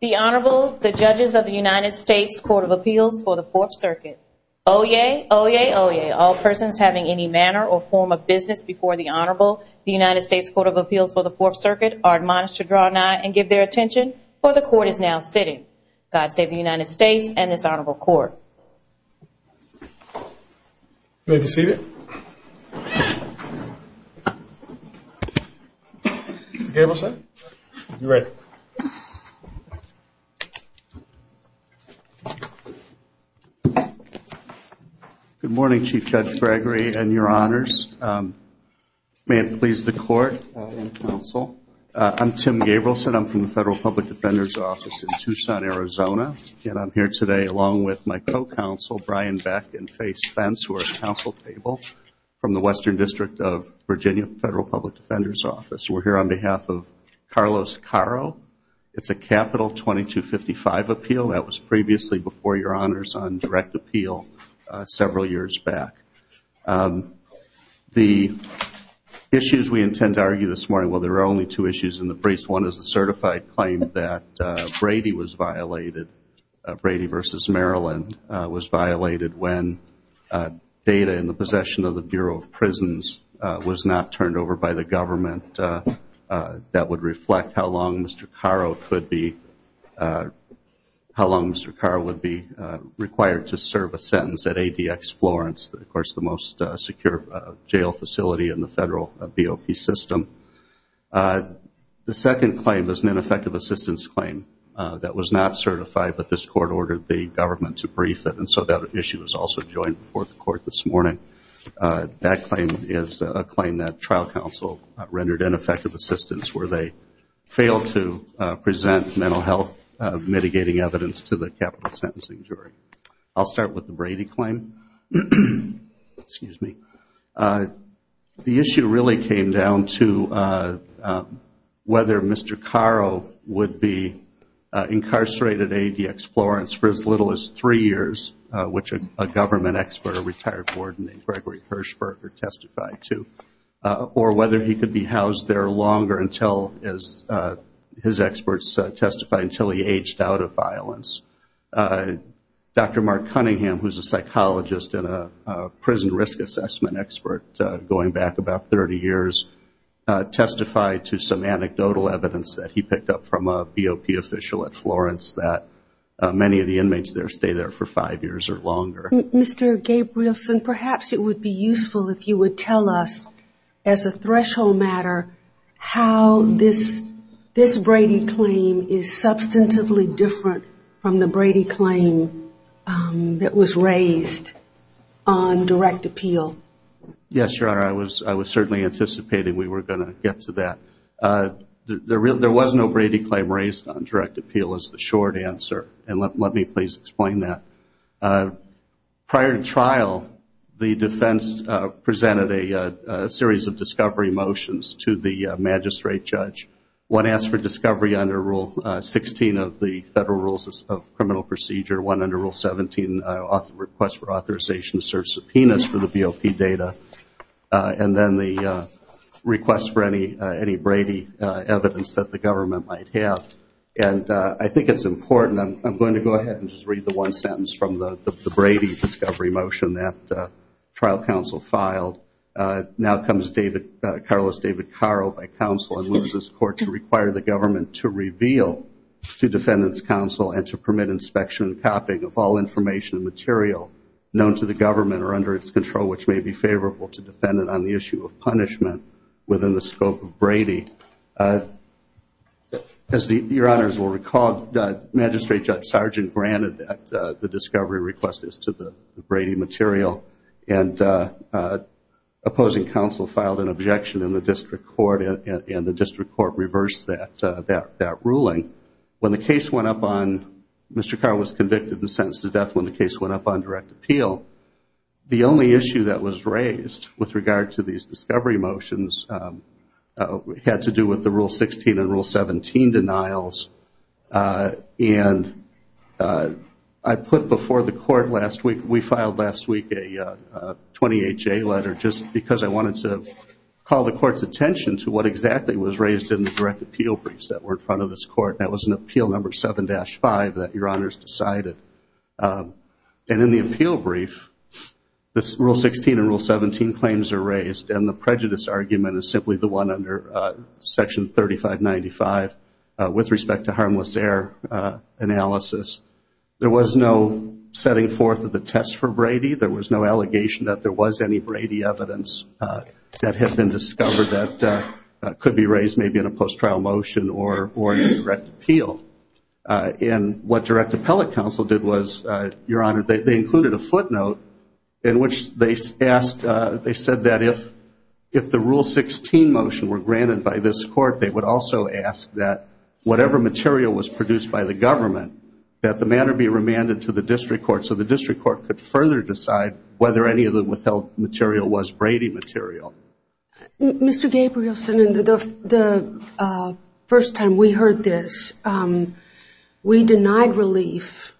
The Honorable, the Judges of the United States Court of Appeals for the Fourth Circuit. Oyez, oyez, oyez, all persons having any manner or form of business before the Honorable, the United States Court of Appeals for the Fourth Circuit, are admonished to draw nigh and give their attention, for the Court is now sitting. God save the United States and this Honorable Court. Tim Gabrielson Good morning, Chief Judge Gregory and your honors. May it please the Court and the Council, I'm Tim Gabrielson, I'm from the Federal Public Defender's Office in Tucson, Arizona, and I'm here today along with my co-counsel, Brian Beck and Faye Spence, who are at the Council table from the Western District of Virginia Federal Public Defender's Office. We're here on behalf of Carlos Caro. It's a capital 2255 appeal that was previously before your honors on direct appeal several years back. The issues we intend to argue this morning, well, there are only two issues in the briefs. One is the certified claim that Brady was violated, Brady v. Maryland, was violated when data in the possession of the Bureau of Prisons was not turned over by the government. That would reflect how long Mr. Caro could be, how long Mr. Caro would be required to serve a sentence at ADX Florence, of course, the most secure jail facility in the federal BOP system. The second claim is an ineffective assistance claim that was not certified, but this Court ordered the government to brief it, and so that issue was also joined before the Court this morning. That claim is a claim that trial counsel rendered ineffective assistance where they failed to present mental health mitigating evidence to the capital sentencing jury. I'll start with the Brady claim. Excuse me. The issue really came down to whether Mr. Caro would be incarcerated at ADX Florence for as little as three years, which a government expert, a retired warden named Gregory Hirschberger testified to, or whether he could be housed there longer until, as his experts testified, until he aged out of violence. Dr. Mark Cunningham, who is a psychologist and a prison risk assessment expert going back about 30 years, testified to some anecdotal evidence that he picked up from a BOP official at Florence that many of the inmates there stay there for five years or longer. Mr. Gabrielson, perhaps it would be useful if you would tell us, as a threshold matter, how this Brady claim is substantively different from the Brady claim that was raised on direct appeal. Yes, Your Honor, I was certainly anticipating we were going to get to that. There was no Brady claim raised on direct appeal is the short answer, and let me please explain that. Prior to trial, the defense presented a series of discovery motions to the magistrate judge. One asked for discovery under Rule 16 of the Federal Rules of Criminal Procedure, one under Rule 17, a request for authorization to serve subpoenas for the BOP data, and then the request for any Brady evidence that the government might have. I think it's important. I'm going to go ahead and just read the one sentence from the Brady discovery motion that trial counsel filed. Now comes Carlos David Caro, by counsel, and moves this court to require the government to reveal to defendants' counsel and to permit inspection and copying of all information and material known to the government or under its control, which may be favorable to defendant on the issue of punishment within the scope of Brady. As Your Honors will recall, magistrate judge Sargent granted that the discovery request is to the Brady material, and opposing counsel filed an objection in the district court, and the district court reversed that ruling. When the case went up on, Mr. Caro was convicted and sentenced to death when the case went up on direct appeal. The only issue that was raised with regard to these discovery motions had to do with the Rule 16 and Rule 17 denials, and I put before the court last week, we filed last week a 28-J letter just because I wanted to call the court's attention to what exactly was raised in the direct appeal briefs that were in front of this court, and that was an appeal number 7-5 that Your Honors decided. And in the appeal brief, Rule 16 and Rule 17 claims are raised, and the prejudice argument is simply the one under Section 3595 with respect to harmless error analysis. There was no setting forth of the test for Brady. There was no allegation that there was any Brady evidence that had been discovered that could be raised maybe in a post-trial motion or in a direct appeal. And what direct appellate counsel did was, Your Honor, they included a footnote in which they asked, they said that if the Rule 16 motion were granted by this court, they would also ask that whatever material was produced by the government, that the matter be remanded to the district court so the district court could further decide whether any of the withheld material was Brady material. Mr. Gabrielson, the first time we heard this, we denied relief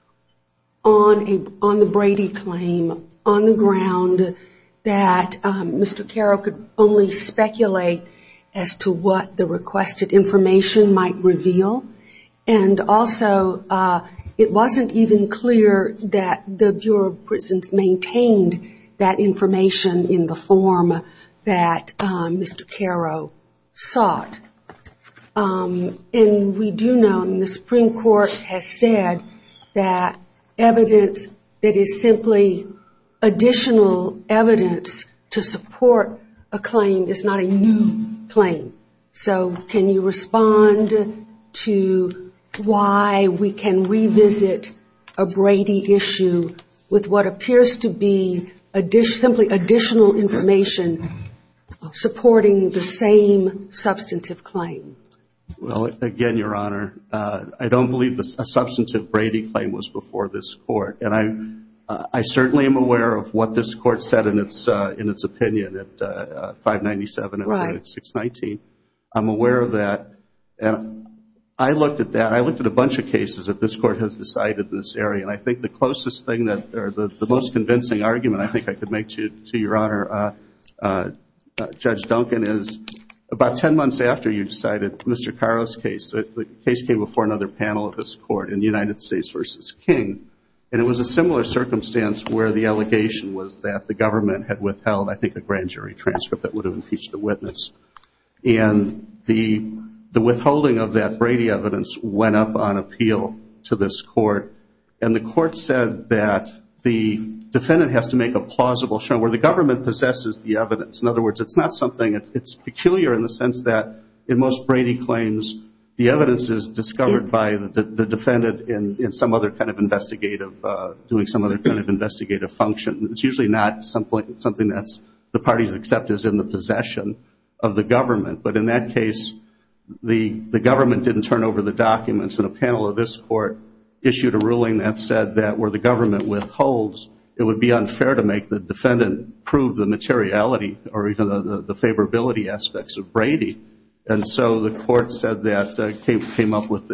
on the Brady claim on the ground that Mr. Carroll could only speculate as to what the requested information might reveal, and also it wasn't even clear that the Bureau of Prisons maintained that information in the form that Mr. Carroll sought. And we do know, and the Supreme Court has said, that evidence that is simply additional evidence to support a claim is not a new claim. So can you respond to why we can revisit a Brady issue with what appears to be simply additional information supporting the same substantive claim? Well, again, Your Honor, I don't believe a substantive Brady claim was before this court. And I certainly am aware of what this court said in its opinion at 597 and 619. I'm aware of that. I looked at that. I looked at a bunch of cases that this court has decided in this area, and I think the most convincing argument I think I could make to Your Honor, Judge Duncan, is about 10 months after you decided Mr. Carroll's case, the case came before another panel of this court in United States v. King, and it was a similar circumstance where the allegation was that the government had withheld, I think, a grand jury transcript that would have impeached the witness. And the withholding of that Brady evidence went up on appeal to this court, and the court said that the defendant has to make a plausible show where the government possesses the evidence. In other words, it's not something, it's peculiar in the sense that in most Brady claims, the evidence is discovered by the defendant in some other kind of investigative, doing some other kind of investigative function. It's usually not something that's the party's acceptance in the possession of the government. But in that case, the government didn't turn over the documents, and a panel of this court issued a ruling that said that where the government withholds, it would be unfair to make the defendant prove the materiality or even the favorability aspects of Brady. And so the court said that, came up with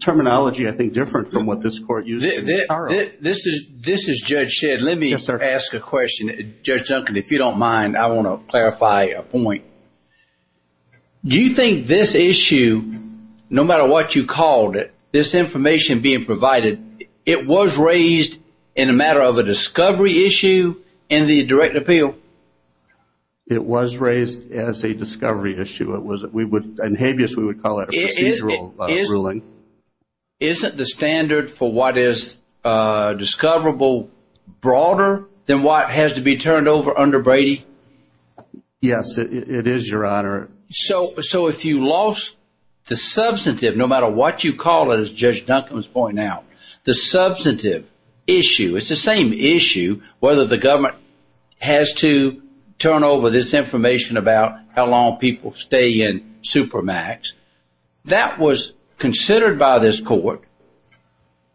terminology, I think, different from what this court used. This is Judge Shedd. Let me ask a question. Judge Duncan, if you don't mind, I want to clarify a point. Do you think this issue, no matter what you called it, this information being provided, it was raised in a matter of a discovery issue in the direct appeal? It was raised as a discovery issue. It was, we would, in habeas, we would call it a procedural ruling. Isn't the standard for what is discoverable broader than what has to be turned over under Brady? Yes, it is, Your Honor. So if you lost the substantive, no matter what you call it, as Judge Duncan has pointed out, the substantive issue, it's the same issue, whether the government has to turn over this information about how long people stay in Supermax. That was considered by this court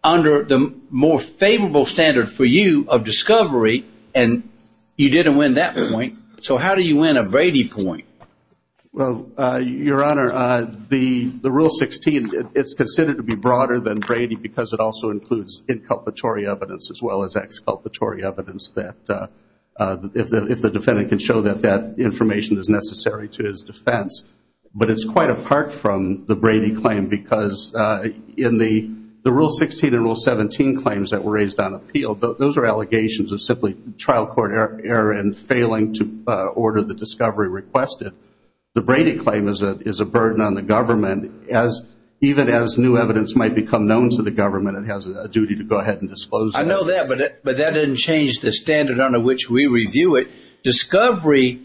under the more favorable standard for you of discovery, and you didn't win that point, so how do you win a Brady point? Well, Your Honor, the Rule 16, it's considered to be broader than Brady because it also includes inculpatory evidence as well as exculpatory evidence that, if the defendant can show that that information is necessary to his defense. But it's quite apart from the Brady claim because in the Rule 16 and Rule 17 claims that were raised on appeal, those are allegations of simply trial court error and failing to order the discovery requested. The Brady claim is a burden on the government. Even as new evidence might become known to the government, it has a duty to go ahead and disclose that. I know that, but that didn't change the standard under which we review it. Discovery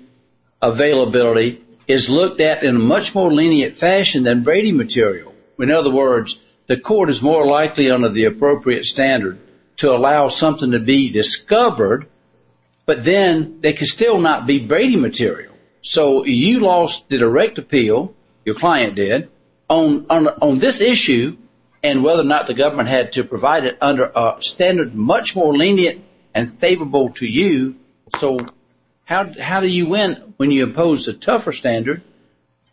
availability is looked at in a much more lenient fashion than Brady material. In other words, the court is more likely under the appropriate standard to allow something to be discovered, but then they can still not be Brady material. So you lost the direct appeal, your client did, on this issue and whether or not the government had to provide it under a standard much more lenient and favorable to you. So how do you win when you impose a tougher standard?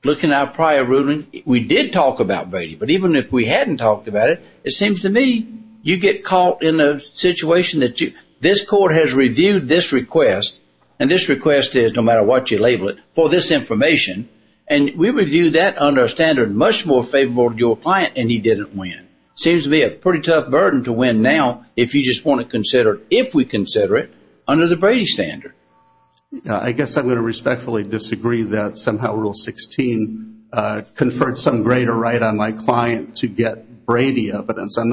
Looking at our prior ruling, we did talk about Brady, but even if we hadn't talked about it, it seems to me you get caught in a situation that this court has reviewed this request, and this request is, no matter what you label it, for this information, and we review that under a standard much more favorable to your client and he didn't win. It seems to be a pretty tough burden to win now if you just want to consider it, if we consider it, under the Brady standard. I guess I'm going to respectfully disagree that somehow Rule 16 conferred some greater right on my client to get Brady evidence. I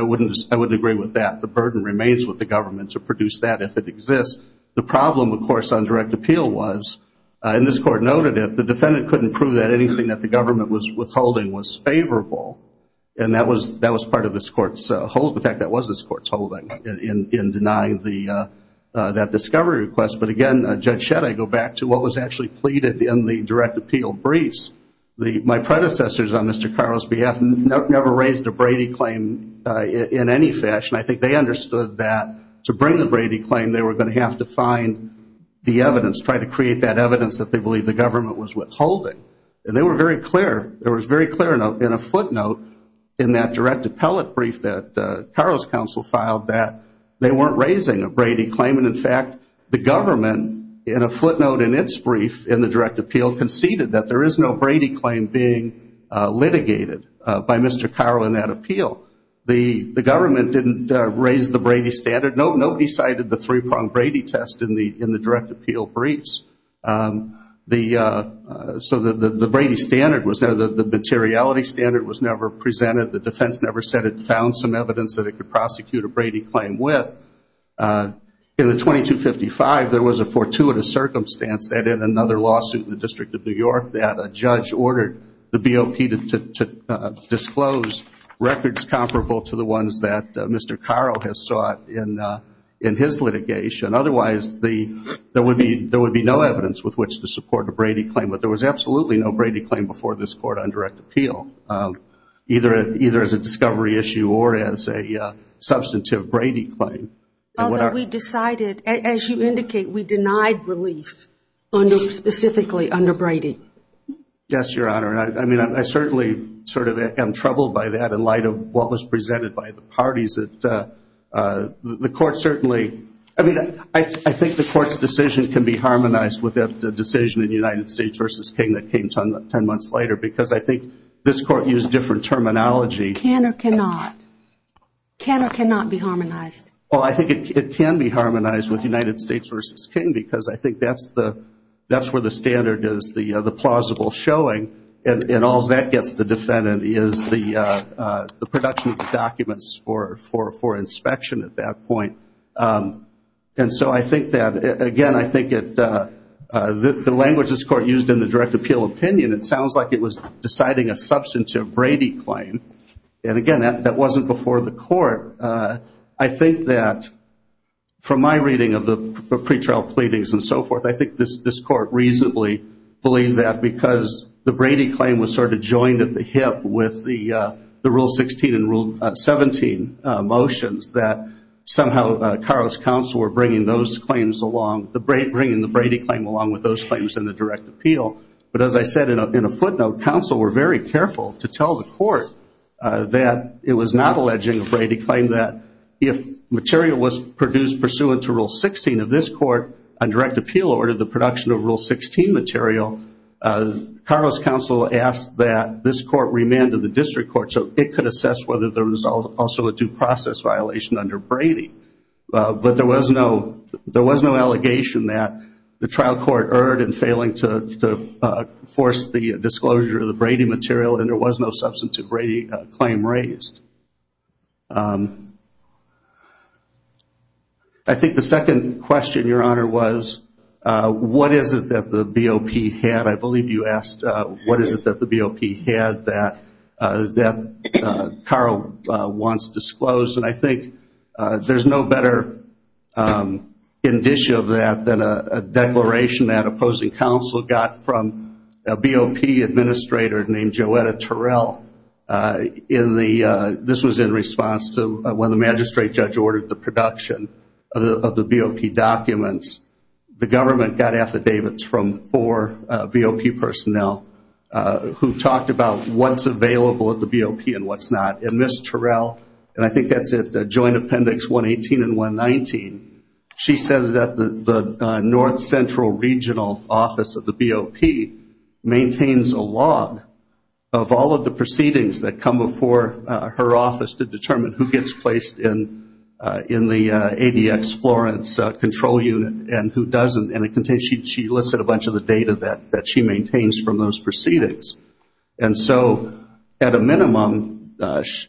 wouldn't agree with that. The burden remains with the government to produce that if it exists. The problem, of course, on direct appeal was, and this court noted it, the defendant couldn't prove that anything that the government was withholding was favorable, and that was part of this court's hold. In fact, that was this court's holding in denying that discovery request. But again, Judge Shedd, I go back to what was actually pleaded in the direct appeal briefs. My predecessors on Mr. Carl's behalf never raised a Brady claim in any fashion. I think they understood that to bring the Brady claim, they were going to have to find the evidence, try to create that evidence that they believe the government was withholding. And they were very clear, it was very clear in a footnote in that direct appellate brief that Carl's counsel filed that they weren't raising a Brady claim. And, in fact, the government, in a footnote in its brief in the direct appeal, conceded that there is no Brady claim being litigated by Mr. Carl in that appeal. The government didn't raise the Brady standard. Nobody cited the three-pronged Brady test in the direct appeal briefs. So the Brady standard was there. The materiality standard was never presented. The defense never said it found some evidence that it could prosecute a Brady claim with. In the 2255, there was a fortuitous circumstance that in another lawsuit in the District of New York that a judge ordered the BOP to disclose records comparable to the ones that Mr. Carl has sought in his litigation. Otherwise, there would be no evidence with which to support a Brady claim. But there was absolutely no Brady claim before this Court on direct appeal, either as a discovery issue or as a substantive Brady claim. Although we decided, as you indicate, we denied relief specifically under Brady. Yes, Your Honor. I mean, I certainly sort of am troubled by that in light of what was presented by the parties. The Court certainly – I mean, I think the Court's decision can be harmonized with the decision in United States v. King that came 10 months later because I think this Court used different terminology. Can or cannot. Can or cannot be harmonized. Well, I think it can be harmonized with United States v. King because I think that's where the standard is, the plausible showing. And all that gets the defendant is the production of the documents for inspection at that point. And so I think that, again, I think the language this Court used in the direct appeal opinion, it sounds like it was deciding a substantive Brady claim. And again, that wasn't before the Court. I think that from my reading of the pretrial pleadings and so forth, I think this Court reasonably believed that because the Brady claim was sort of joined at the hip with the Rule 16 and Rule 17 motions that somehow Carlisle's counsel were bringing those claims along, bringing the Brady claim along with those claims in the direct appeal. But as I said in a footnote, counsel were very careful to tell the Court that it was not alleging a Brady claim, saying that if material was produced pursuant to Rule 16 of this Court on direct appeal or the production of Rule 16 material, Carlisle's counsel asked that this Court remanded the district court so it could assess whether there was also a due process violation under Brady. But there was no allegation that the trial court erred in failing to force the disclosure of the Brady material, and there was no substantive Brady claim raised. I think the second question, Your Honor, was what is it that the BOP had? I believe you asked what is it that the BOP had that Carl wants disclosed. And I think there's no better indicia of that than a declaration that opposing counsel got from a BOP administrator named Joetta Terrell. This was in response to when the magistrate judge ordered the production of the BOP documents. The government got affidavits from four BOP personnel who talked about what's available at the BOP and what's not. And Ms. Terrell, and I think that's at Joint Appendix 118 and 119, she said that the North Central Regional Office of the BOP maintains a log of all of the proceedings that come before her office to determine who gets placed in the ADX Florence control unit and who doesn't. And she listed a bunch of the data that she maintains from those proceedings. And so at a minimum,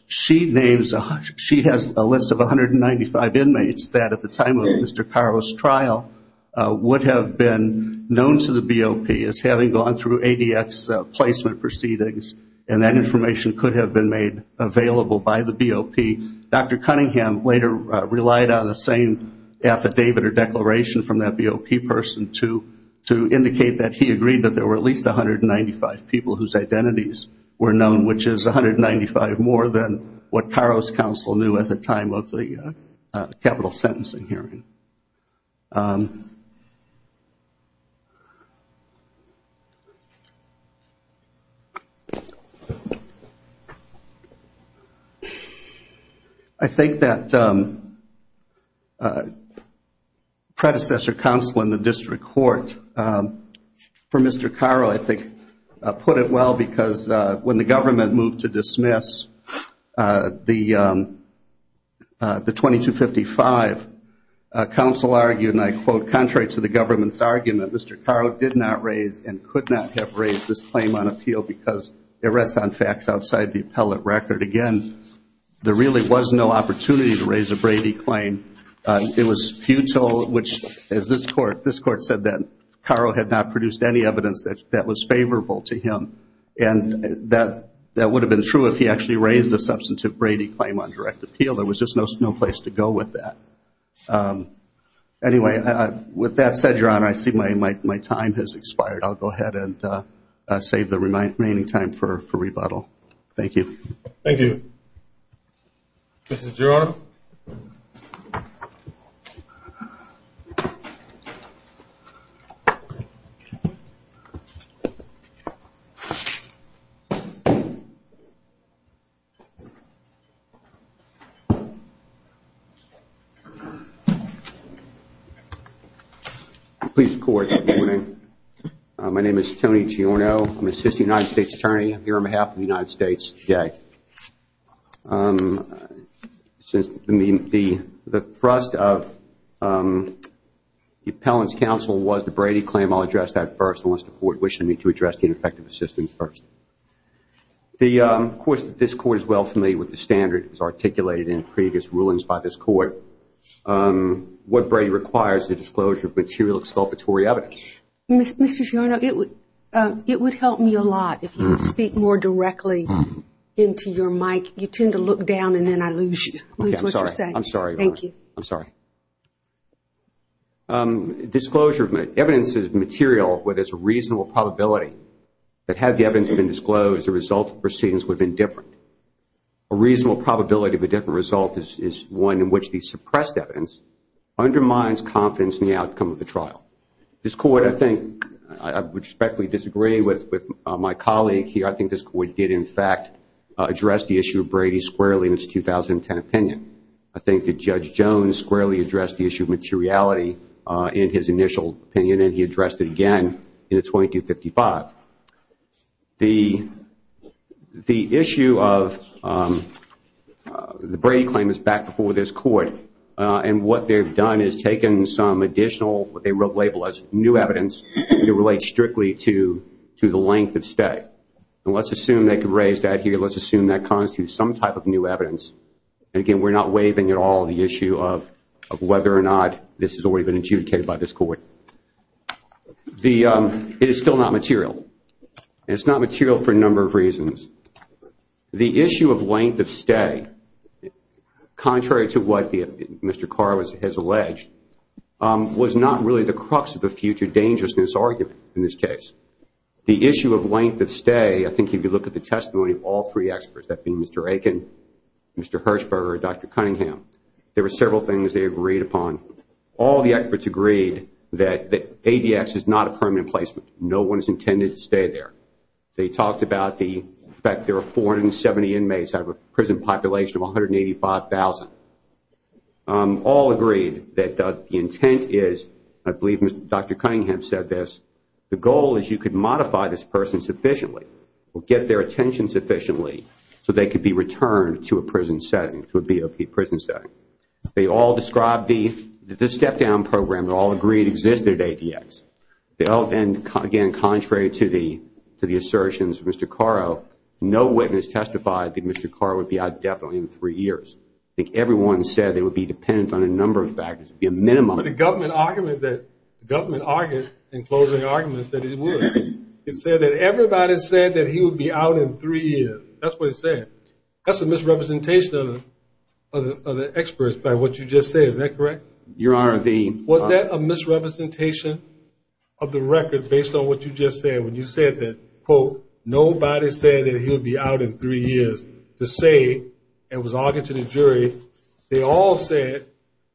she has a list of 195 inmates that at the time of Mr. Carro's trial would have been known to the BOP as having gone through ADX placement proceedings, and that information could have been made available by the BOP. Dr. Cunningham later relied on the same affidavit or declaration from that BOP person to indicate that he agreed that there were at least 195 people whose identities were known, which is 195 more than what Carro's counsel knew at the time of the capital sentencing hearing. I think that predecessor counsel in the district court for Mr. Carro, I think, put it well because when the government moved to dismiss the 2255, counsel argued, and I quote, contrary to the government's argument, Mr. Carro did not raise and could not have raised this claim on appeal because it rests on facts outside the appellate record. Again, there really was no opportunity to raise a Brady claim. It was futile, which as this court said then, Carro had not produced any evidence that was favorable to him. And that would have been true if he actually raised a substantive Brady claim on direct appeal. There was just no place to go with that. Anyway, with that said, Your Honor, I see my time has expired. I'll go ahead and save the remaining time for rebuttal. Thank you. Thank you. Mr. Giorno. Please report, Your Honor. My name is Tony Giorno. I'm an assistant United States attorney here on behalf of the United States today. The thrust of the appellant's counsel was the Brady claim. I'll address that first unless the court wishes me to address the ineffective assistance first. Of course, this court is well familiar with the standard that was articulated in previous rulings by this court. What Brady requires is a disclosure of material exculpatory evidence. Mr. Giorno, it would help me a lot if you would speak more directly into your mic. You tend to look down and then I lose what you're saying. I'm sorry, Your Honor. Thank you. I'm sorry. Disclosure of evidence is material where there's a reasonable probability that had the evidence been disclosed, the result of proceedings would have been different. A reasonable probability of a different result is one in which the suppressed evidence undermines confidence in the outcome of the trial. This court, I think, I respectfully disagree with my colleague here. I think this court did, in fact, address the issue of Brady squarely in its 2010 opinion. I think that Judge Jones squarely addressed the issue of materiality in his initial opinion, and he addressed it again in the 2255. The issue of the Brady claim is back before this court, and what they've done is taken some additional what they label as new evidence that relates strictly to the length of stay. Let's assume they could raise that here. Let's assume that constitutes some type of new evidence. Again, we're not waiving at all the issue of whether or not this has already been adjudicated by this court. It is still not material, and it's not material for a number of reasons. The issue of length of stay, contrary to what Mr. Carr has alleged, was not really the crux of the future dangerousness argument in this case. The issue of length of stay, I think if you look at the testimony of all three experts, that being Mr. Aiken, Mr. Hirshberg, or Dr. Cunningham, there were several things they agreed upon. All the experts agreed that ADX is not a permanent placement. No one is intended to stay there. They talked about the fact there are 470 inmates out of a prison population of 185,000. All agreed that the intent is, I believe Dr. Cunningham said this, the goal is you could modify this person sufficiently or get their attention sufficiently so they could be returned to a BOP prison setting. They all described the step-down program. They all agreed it existed at ADX. And again, contrary to the assertions of Mr. Carro, no witness testified that Mr. Carro would be out definitely in three years. I think everyone said they would be dependent on a number of factors. It would be a minimum. But the government argued in closing arguments that it would. It said that everybody said that he would be out in three years. That's what it said. That's a misrepresentation of the experts by what you just said. Is that correct? Your Honor, the Was that a misrepresentation of the record based on what you just said? When you said that, quote, nobody said that he would be out in three years. To say, and it was argued to the jury, they all said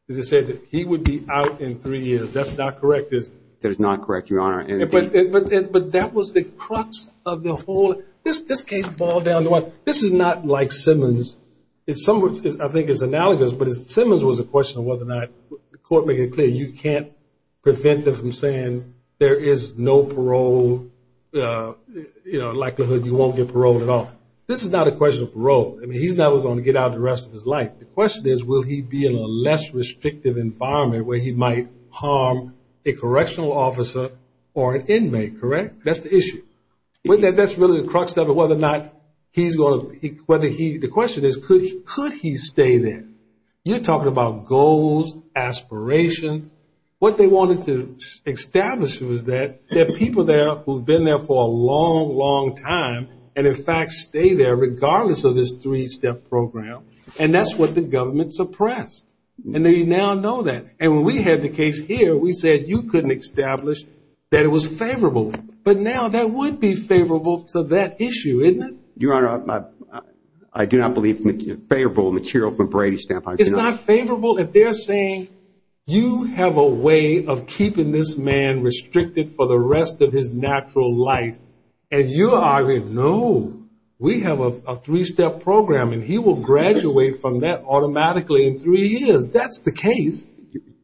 that he would be out in three years. That's not correct, is it? That is not correct, Your Honor. But that was the crux of the whole. This case boiled down to what? This is not like Simmons. In some ways, I think it's analogous, but Simmons was a question of whether or not, the court made it clear, you can't prevent them from saying there is no parole, likelihood you won't get paroled at all. This is not a question of parole. I mean, he's never going to get out the rest of his life. The question is, will he be in a less restrictive environment where he might harm a correctional officer or an inmate, correct? That's the issue. But that's really the crux of it, whether or not he's going to, the question is, could he stay there? You're talking about goals, aspirations. What they wanted to establish was that there are people there who have been there for a long, long time and, in fact, stay there regardless of this three-step program. And that's what the government suppressed. And they now know that. And when we had the case here, we said you couldn't establish that it was favorable. But now that would be favorable to that issue, isn't it? Your Honor, I do not believe favorable material from Brady's standpoint. It's not favorable if they're saying you have a way of keeping this man restricted for the rest of his natural life. And you argue, no, we have a three-step program, and he will graduate from that automatically in three years. That's the case.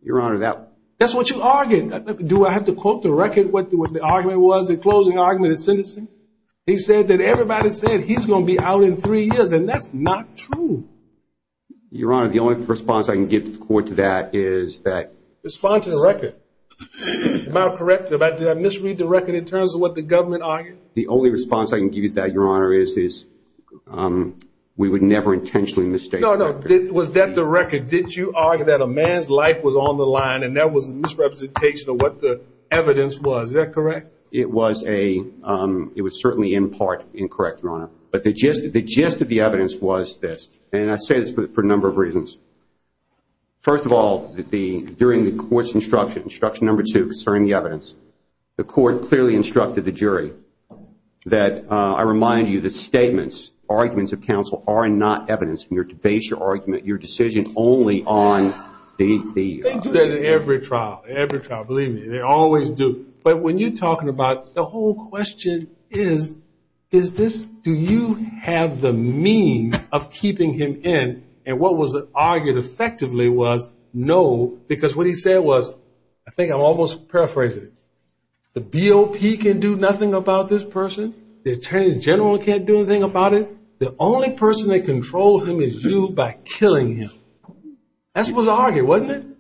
Your Honor, that. That's what you argued. the closing argument at Citizens? He said that everybody said he's going to be out in three years, and that's not true. Your Honor, the only response I can give to the court to that is that. Respond to the record. Am I correct? Did I misread the record in terms of what the government argued? The only response I can give you to that, Your Honor, is we would never intentionally mistake. No, no. Was that the record? Did you argue that a man's life was on the line and that was a misrepresentation of what the evidence was? Is that correct? It was certainly in part incorrect, Your Honor. But the gist of the evidence was this, and I say this for a number of reasons. First of all, during the court's instruction, instruction number two concerning the evidence, the court clearly instructed the jury that, I remind you, the statements, arguments of counsel are not evidence, and you're to base your argument, your decision only on the. They do that in every trial, every trial, believe me. They always do. But when you're talking about the whole question is, is this, do you have the means of keeping him in? And what was argued effectively was no, because what he said was, I think I'm almost paraphrasing it, the BOP can do nothing about this person. The attorney general can't do anything about it. The only person that controls him is you by killing him.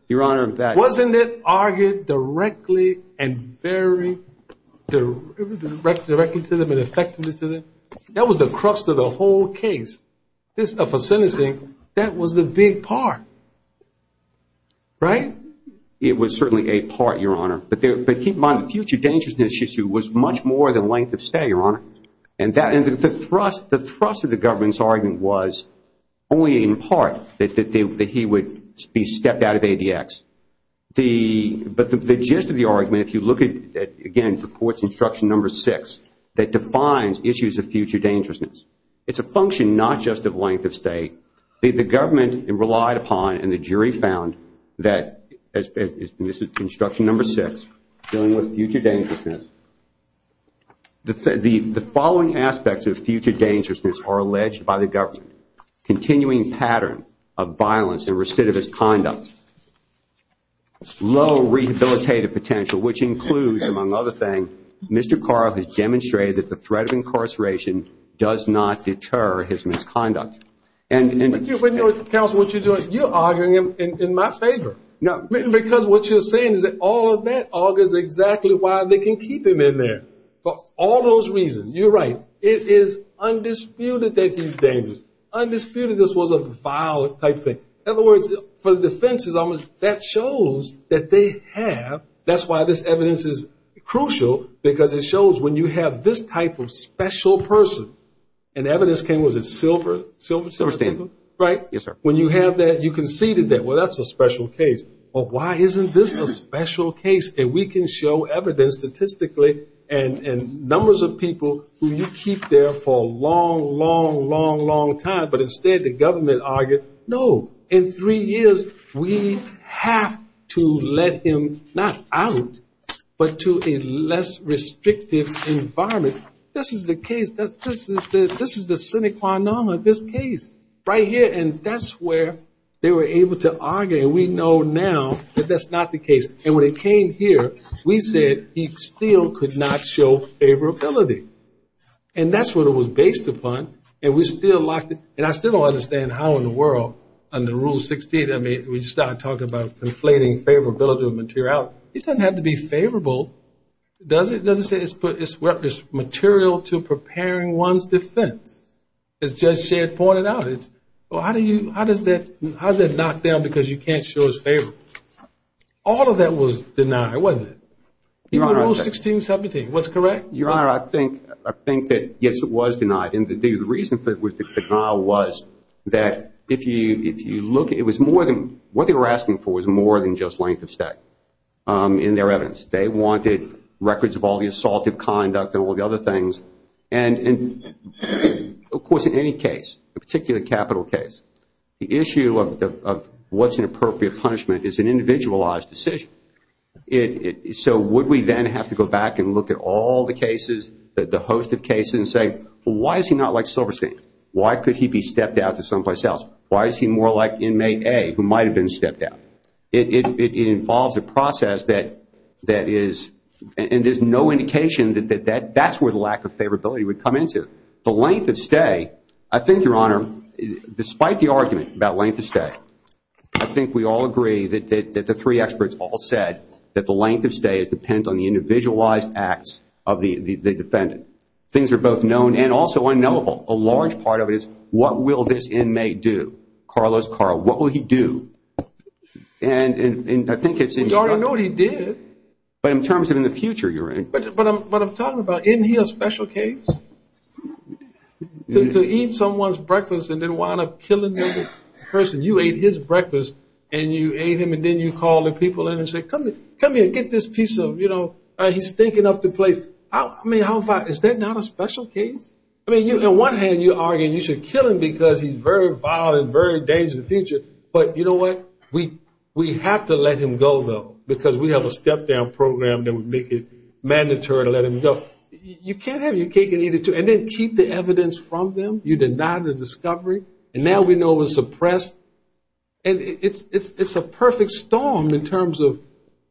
Your Honor, in fact. Wasn't it argued directly and very directly to them and effectively to them? That was the crux of the whole case. For sentencing, that was the big part, right? It was certainly a part, Your Honor. But keep in mind, the future dangerousness issue was much more than length of stay, Your Honor, and the thrust of the government's argument was only in part that he would be stepped out of ADX. But the gist of the argument, if you look at, again, the court's instruction number six, that defines issues of future dangerousness. It's a function not just of length of stay. The government relied upon, and the jury found that, this is instruction number six, dealing with future dangerousness. The following aspects of future dangerousness are alleged by the government. Continuing pattern of violence and recidivist conduct. Low rehabilitative potential, which includes, among other things, Mr. Carl has demonstrated that the threat of incarceration does not deter his misconduct. But, Counsel, what you're doing, you're arguing in my favor. Because what you're saying is that all of that augurs exactly why they can keep him in there. For all those reasons, you're right, it is undisputed that he's dangerous. Undisputed this was a vile type thing. In other words, for the defense, that shows that they have, that's why this evidence is crucial, because it shows when you have this type of special person, and evidence came, was it silver? Silver stamp. Right? Yes, sir. When you have that, you conceded that, well, that's a special case. Well, why isn't this a special case? But instead, the government argued, no, in three years, we have to let him not out, but to a less restrictive environment. This is the case. This is the sine qua non of this case right here. And that's where they were able to argue. And we know now that that's not the case. And when it came here, we said he still could not show favorability. And that's what it was based upon. And we still locked it, and I still don't understand how in the world, under Rule 16, I mean, we just started talking about conflating favorability with materiality. It doesn't have to be favorable, does it? It doesn't say it's material to preparing one's defense. As Judge Shadd pointed out, it's, well, how does that knock down because you can't show his favor? All of that was denied, wasn't it? Even Rule 16, 17. What's correct? Your Honor, I think that, yes, it was denied. And the reason for the denial was that if you look, it was more than, what they were asking for was more than just length of stay in their evidence. They wanted records of all the assaultive conduct and all the other things. And, of course, in any case, a particular capital case, the issue of what's an appropriate punishment is an individualized decision. So would we then have to go back and look at all the cases, the host of cases, and say, well, why is he not like Silverstein? Why could he be stepped out to someplace else? Why is he more like inmate A who might have been stepped out? It involves a process that is, and there's no indication that that's where the lack of favorability would come into. The length of stay, I think, Your Honor, despite the argument about length of stay, I think we all agree that the three experts all said that the length of stay depends on the individualized acts of the defendant. Things are both known and also unknowable. A large part of it is what will this inmate do? Carlos, Carl, what will he do? And I think it's in your- We already know what he did. But in terms of in the future, Your Honor- But I'm talking about isn't he a special case? To eat someone's breakfast and then wind up killing the person. You ate his breakfast, and you ate him, and then you call the people in and say, come here, get this piece of, you know, he's stinking up the place. I mean, is that not a special case? I mean, on one hand, you're arguing you should kill him because he's very vile and very dangerous in the future. But you know what? We have to let him go, though, because we have a step-down program that would make it mandatory to let him go. So you can't have it. You can't get either two. And then keep the evidence from them. You deny the discovery. And now we know it was suppressed. And it's a perfect storm in terms of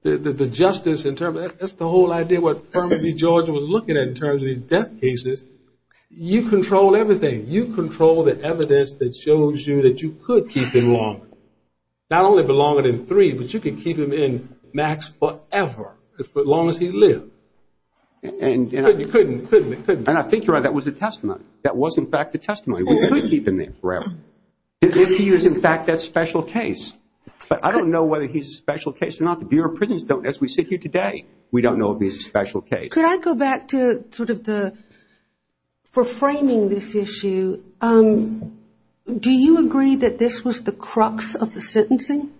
the justice, in terms of that's the whole idea, what Fermi, Georgia, was looking at in terms of these death cases. You control everything. You control the evidence that shows you that you could keep him longer. Not only be longer than three, but you could keep him in max forever, as long as he lived. You couldn't. You couldn't. And I think you're right. That was a testimony. That was, in fact, a testimony. We couldn't keep him there forever if he was, in fact, that special case. But I don't know whether he's a special case or not. The Bureau of Prisons don't, as we sit here today. We don't know if he's a special case. Could I go back to sort of the, for framing this issue, do you agree that this was the crux of the sentencing?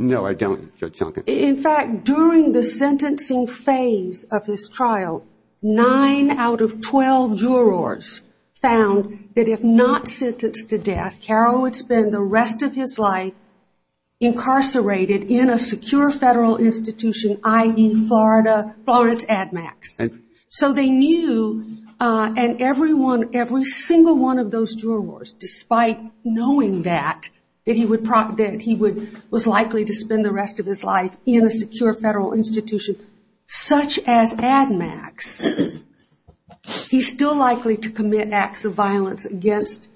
No, I don't, Judge Duncan. In fact, during the sentencing phase of his trial, nine out of 12 jurors found that if not sentenced to death, Carroll would spend the rest of his life incarcerated in a secure federal institution, i.e., Florida, Florence Ad Max. So they knew, and everyone, every single one of those jurors, despite knowing that he was likely to spend the rest of his life in a secure federal institution such as Ad Max, he's still likely to commit acts of violence against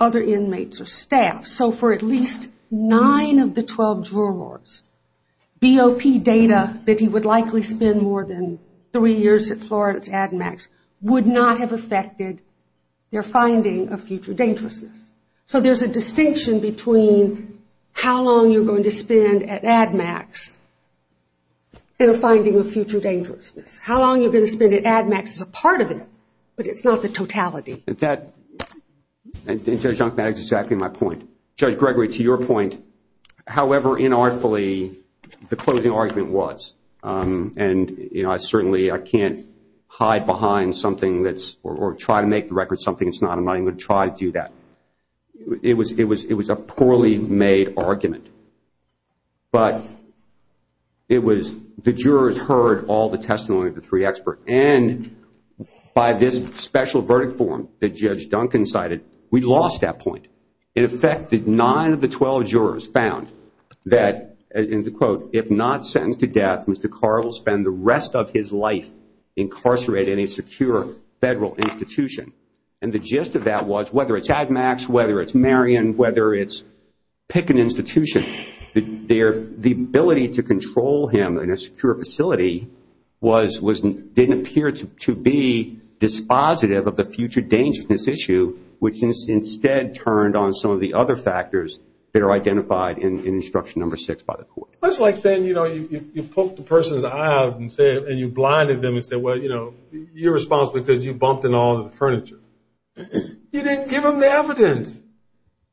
other inmates or staff. So for at least nine of the 12 jurors, BOP data that he would likely spend more than three years at Florida's Ad Max would not have affected their finding of future dangerousness. So there's a distinction between how long you're going to spend at Ad Max and a finding of future dangerousness. How long you're going to spend at Ad Max is a part of it, but it's not the totality. That, and Judge Duncan, that is exactly my point. Judge Gregory, to your point, however inartfully the closing argument was, and certainly I can't hide behind something that's, or try to make the record something that's not, I'm not even going to try to do that. It was a poorly made argument. But it was, the jurors heard all the testimony of the three experts, and by this special verdict form that Judge Duncan cited, we lost that point. In effect, nine of the 12 jurors found that, and to quote, if not sentenced to death, Mr. Carr will spend the rest of his life incarcerated in a secure federal institution. And the gist of that was, whether it's Ad Max, whether it's Marion, whether it's pick an institution, the ability to control him in a secure facility didn't appear to be dispositive of the future dangerousness issue, which instead turned on some of the other factors that are identified in instruction number six by the court. It's like saying, you know, you poke the person's eye out and you blinded them and said, well, you know, you're responsible because you bumped into all the furniture. You didn't give them the evidence.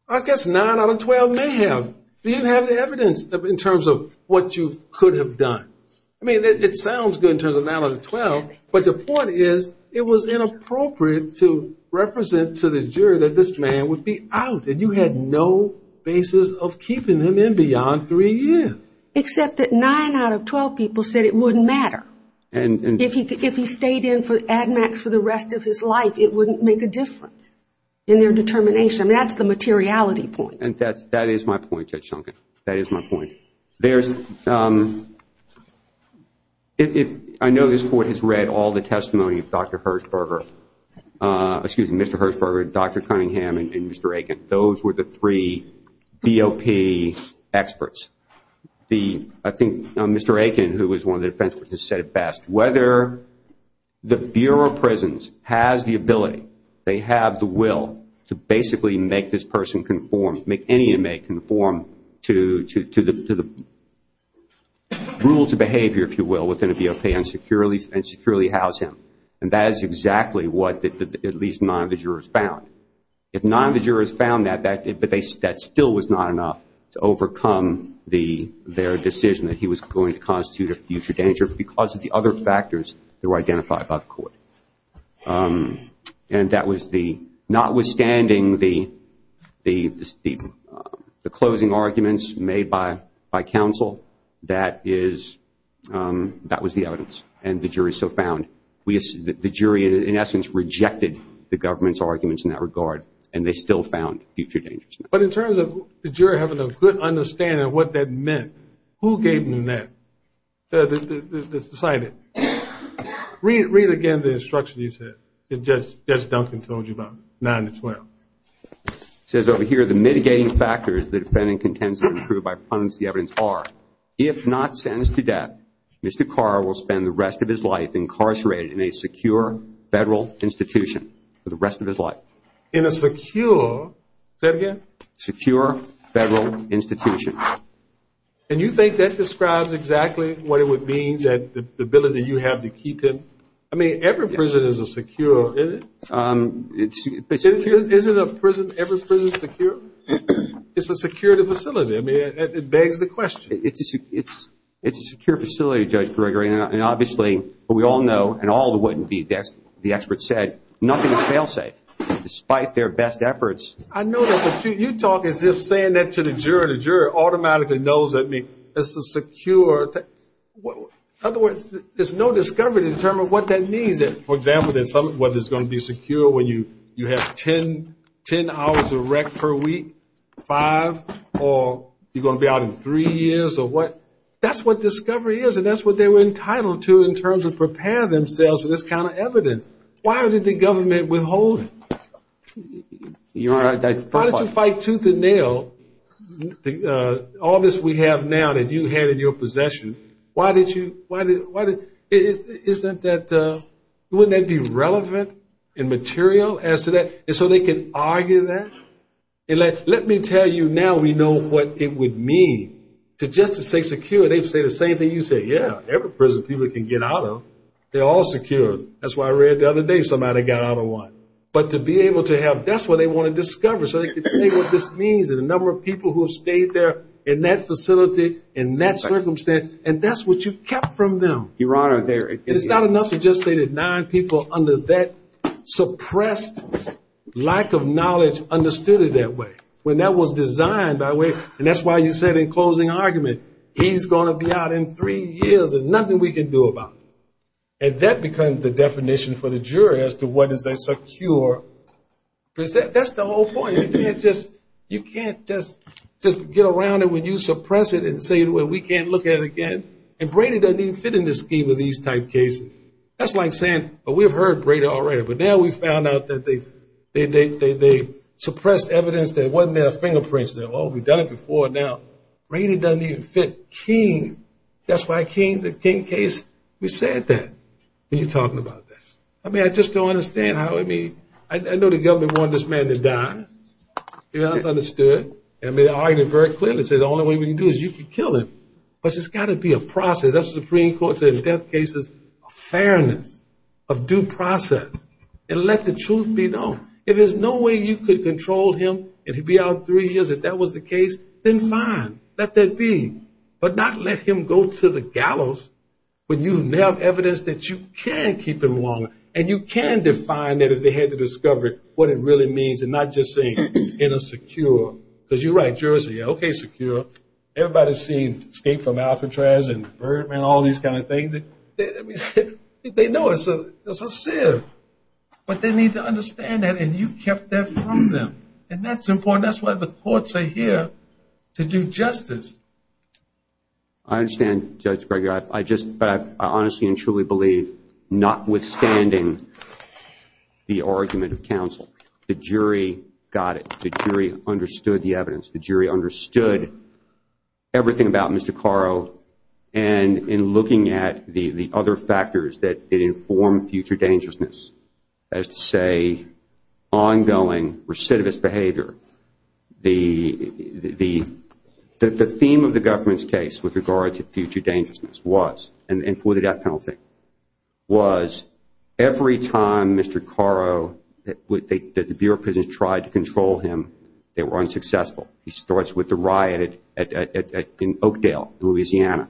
I guess nine out of 12 may have. You didn't have the evidence in terms of what you could have done. But the point is, it was inappropriate to represent to the jury that this man would be out, and you had no basis of keeping him in beyond three years. Except that nine out of 12 people said it wouldn't matter. If he stayed in for Ad Max for the rest of his life, it wouldn't make a difference in their determination. I mean, that's the materiality point. And that is my point, Judge Shunkin. That is my point. There's – I know this court has read all the testimony of Dr. Hershberger, excuse me, Mr. Hershberger, Dr. Cunningham, and Mr. Akin. Those were the three BOP experts. I think Mr. Akin, who was one of the defense witnesses, said it best. Whether the Bureau of Prisons has the ability, they have the will, to basically make this person conform, make any inmate conform to the rules of behavior, if you will, within a BOP and securely house him. And that is exactly what at least nine of the jurors found. If nine of the jurors found that, that still was not enough to overcome their decision that he was going to constitute a future danger because of the other factors that were identified by the court. And that was the – notwithstanding the closing arguments made by counsel, that is – that was the evidence. And the jury so found – the jury, in essence, rejected the government's arguments in that regard, and they still found future dangers. But in terms of the jury having a good understanding of what that meant, who gave them that? That's decided. Read again the instruction you said that Judge Duncan told you about, 9 to 12. It says over here, the mitigating factors the defendant contends to prove by prudence of the evidence are, if not sentenced to death, Mr. Carr will spend the rest of his life incarcerated in a secure federal institution for the rest of his life. In a secure – say it again? Secure federal institution. And you think that describes exactly what it would mean that the ability you have to keep him – I mean, every prison is a secure – isn't it? Isn't a prison – every prison secure? It's a secure facility. I mean, it begs the question. It's a secure facility, Judge Gregory. And obviously, we all know, and all the – the experts said, nothing is fail-safe, despite their best efforts. I know that, but you talk as if saying that to the juror, the juror automatically knows that it's a secure – in other words, there's no discovery to determine what that means. For example, there's some – whether it's going to be secure when you have 10 hours of rec per week, five, or you're going to be out in three years, or what. That's what discovery is, and that's what they were entitled to in terms of preparing themselves for this kind of evidence. Why did the government withhold it? Why did you fight tooth and nail, all this we have now that you had in your possession? Why did you – why did – isn't that – wouldn't that be relevant and material as to that? And so they can argue that? And let me tell you now we know what it would mean to just to say secure. They'd say the same thing you said. Yeah, every prison people can get out of. They're all secure. That's why I read the other day somebody got out of one. But to be able to have – that's what they want to discover so they can see what this means and the number of people who have stayed there in that facility, in that circumstance, and that's what you kept from them. Your Honor, there – And it's not enough to just say that nine people under that suppressed lack of knowledge understood it that way. When that was designed by way – and that's why you said in closing argument, he's going to be out in three years and nothing we can do about it. And that becomes the definition for the jury as to what is a secure – that's the whole point. You can't just get around it when you suppress it and say we can't look at it again. And Brady doesn't even fit in the scheme of these type cases. That's like saying, well, we've heard Brady already, but now we've found out that they suppressed evidence that wasn't in their fingerprints. Well, we've done it before now. Brady doesn't even fit. That's why King – the King case, we said that when you're talking about this. I mean, I just don't understand how – I mean, I know the government wanted this man to die. Your Honor has understood. I mean, I argued very clearly and said the only way we can do it is you can kill him. But there's got to be a process. That's what the Supreme Court said in death cases, a fairness of due process. And let the truth be known. If there's no way you could control him and he'd be out in three years if that was the case, then fine. Let that be. But not let him go to the gallows when you have evidence that you can keep him longer. And you can define it if they had to discover what it really means and not just saying, you know, secure. Because you're right, Jersey. Okay, secure. Everybody's seen Escape from Alcatraz and Birdman, all these kind of things. They know it's a sin. But they need to understand that, and you kept that from them. And that's important. And that's why the courts are here, to do justice. I understand, Judge Gregory. But I honestly and truly believe, notwithstanding the argument of counsel, the jury got it. The jury understood the evidence. The jury understood everything about Mr. Carro. And in looking at the other factors that inform future dangerousness, that is to say ongoing recidivist behavior, the theme of the government's case with regard to future dangerousness was, and for the death penalty, was every time Mr. Carro, that the Bureau of Prisons tried to control him, they were unsuccessful. He starts with the riot in Oakdale, Louisiana.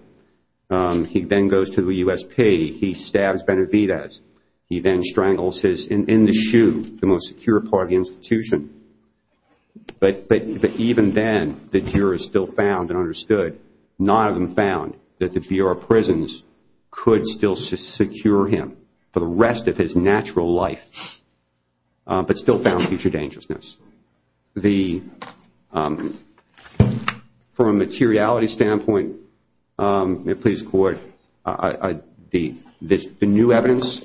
He then goes to the USP. He stabs Benavidez. He then strangles his, in the shoe, the most secure part of the institution. But even then, the jurors still found and understood, none of them found that the Bureau of Prisons could still secure him for the rest of his natural life, but still found future dangerousness. From a materiality standpoint, the new evidence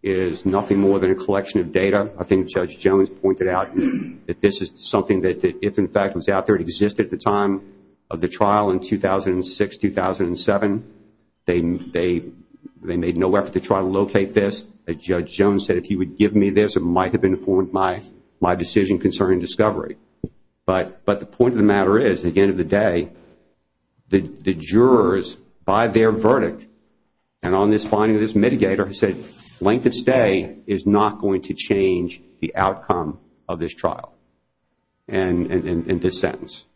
is nothing more than a collection of data. I think Judge Jones pointed out that this is something that, if in fact it was out there, it existed at the time of the trial in 2006, 2007. They made no effort to try to locate this. As Judge Jones said, if he would give me this, it might have informed my decision concerning discovery. But the point of the matter is, at the end of the day, the jurors, by their verdict, and on this finding of this mitigator, said, length of stay is not going to change the outcome of this trial and this sentence.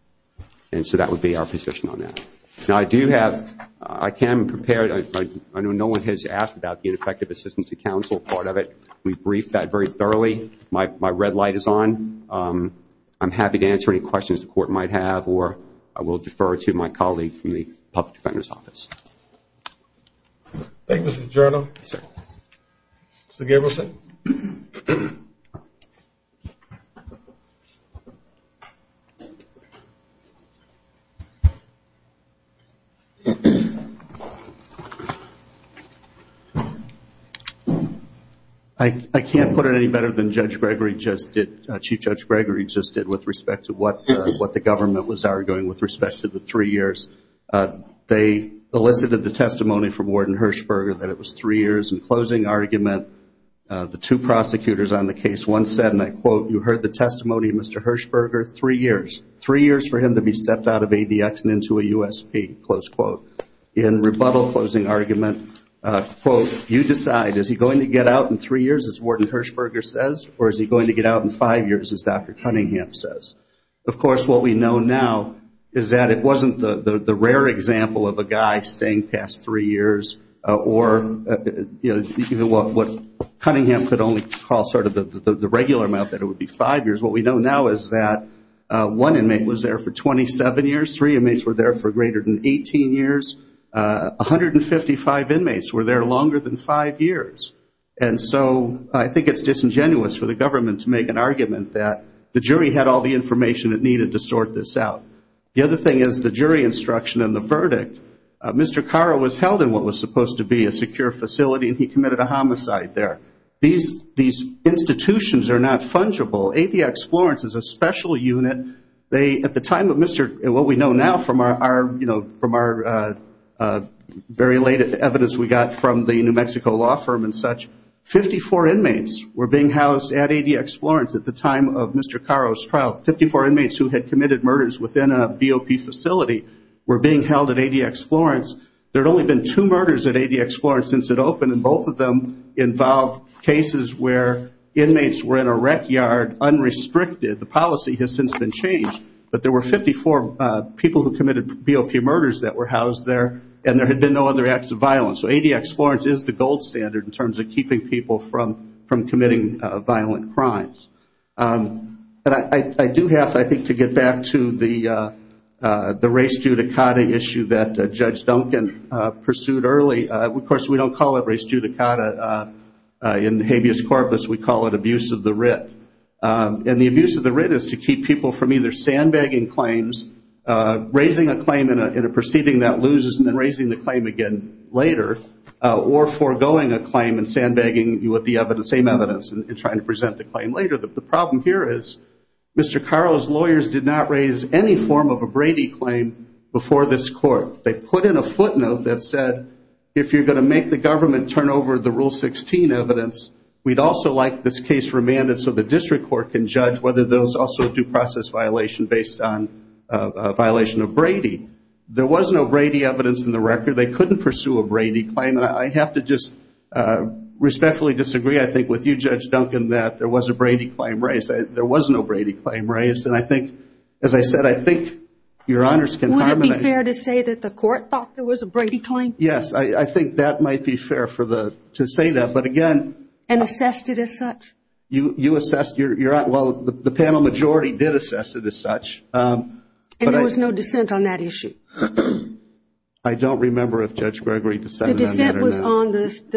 So that would be our position on that. Now I do have, I can prepare, I know no one has asked about the ineffective assistance of counsel part of it. We briefed that very thoroughly. My red light is on. I'm happy to answer any questions the Court might have, or I will defer to my colleague from the Public Defender's Office. Thank you, Mr. Giorno. Mr. Gableson. I can't put it any better than Chief Judge Gregory just did with respect to what the government was arguing with respect to the three years. They elicited the testimony from Warden Hershberger that it was three years. In closing argument, the two prosecutors on the case once said, and I quote, you heard the testimony of Mr. Hershberger, three years. Three years for him to be stepped out of ADX and into a USP, close quote. In rebuttal closing argument, quote, you decide, is he going to get out in three years, as Warden Hershberger says, or is he going to get out in five years, as Dr. Cunningham says? Of course, what we know now is that it wasn't the rare example of a guy staying past three years, or what Cunningham could only call sort of the regular amount, that it would be five years. What we know now is that one inmate was there for 27 years. Three inmates were there for greater than 18 years. 155 inmates were there longer than five years. And so I think it's disingenuous for the government to make an argument that the jury had all the information it needed to sort this out. The other thing is the jury instruction in the verdict. Mr. Carr was held in what was supposed to be a secure facility, and he committed a homicide there. These institutions are not fungible. ADX Florence is a special unit. At the time of what we know now from our very late evidence we got from the New Mexico law firm and such, 54 inmates were being housed at ADX Florence at the time of Mr. Carr's trial. Fifty-four inmates who had committed murders within a BOP facility were being held at ADX Florence. There had only been two murders at ADX Florence since it opened, and both of them involved cases where inmates were in a rec yard unrestricted. The policy has since been changed, but there were 54 people who committed BOP murders that were housed there, and there had been no other acts of violence. So ADX Florence is the gold standard in terms of keeping people from committing violent crimes. But I do have, I think, to get back to the race judicata issue that Judge Duncan pursued early. Of course, we don't call it race judicata in habeas corpus. We call it abuse of the writ. And the abuse of the writ is to keep people from either sandbagging claims, raising a claim in a proceeding that loses and then raising the claim again later, or foregoing a claim and sandbagging you with the same evidence and trying to present the claim later. The problem here is Mr. Carr's lawyers did not raise any form of a Brady claim before this court. They put in a footnote that said, if you're going to make the government turn over the Rule 16 evidence, we'd also like this case remanded so the district court can judge whether there was also a due process violation based on a violation of Brady. There was no Brady evidence in the record. They couldn't pursue a Brady claim. And I have to just respectfully disagree, I think, with you, Judge Duncan, that there was a Brady claim raised. There was no Brady claim raised. And I think, as I said, I think your honors can carbonate. Would it be fair to say that the court thought there was a Brady claim? Yes, I think that might be fair to say that. And assessed it as such? Well, the panel majority did assess it as such. And there was no dissent on that issue? I don't remember if Judge Gregory dissented on that or not. The dissent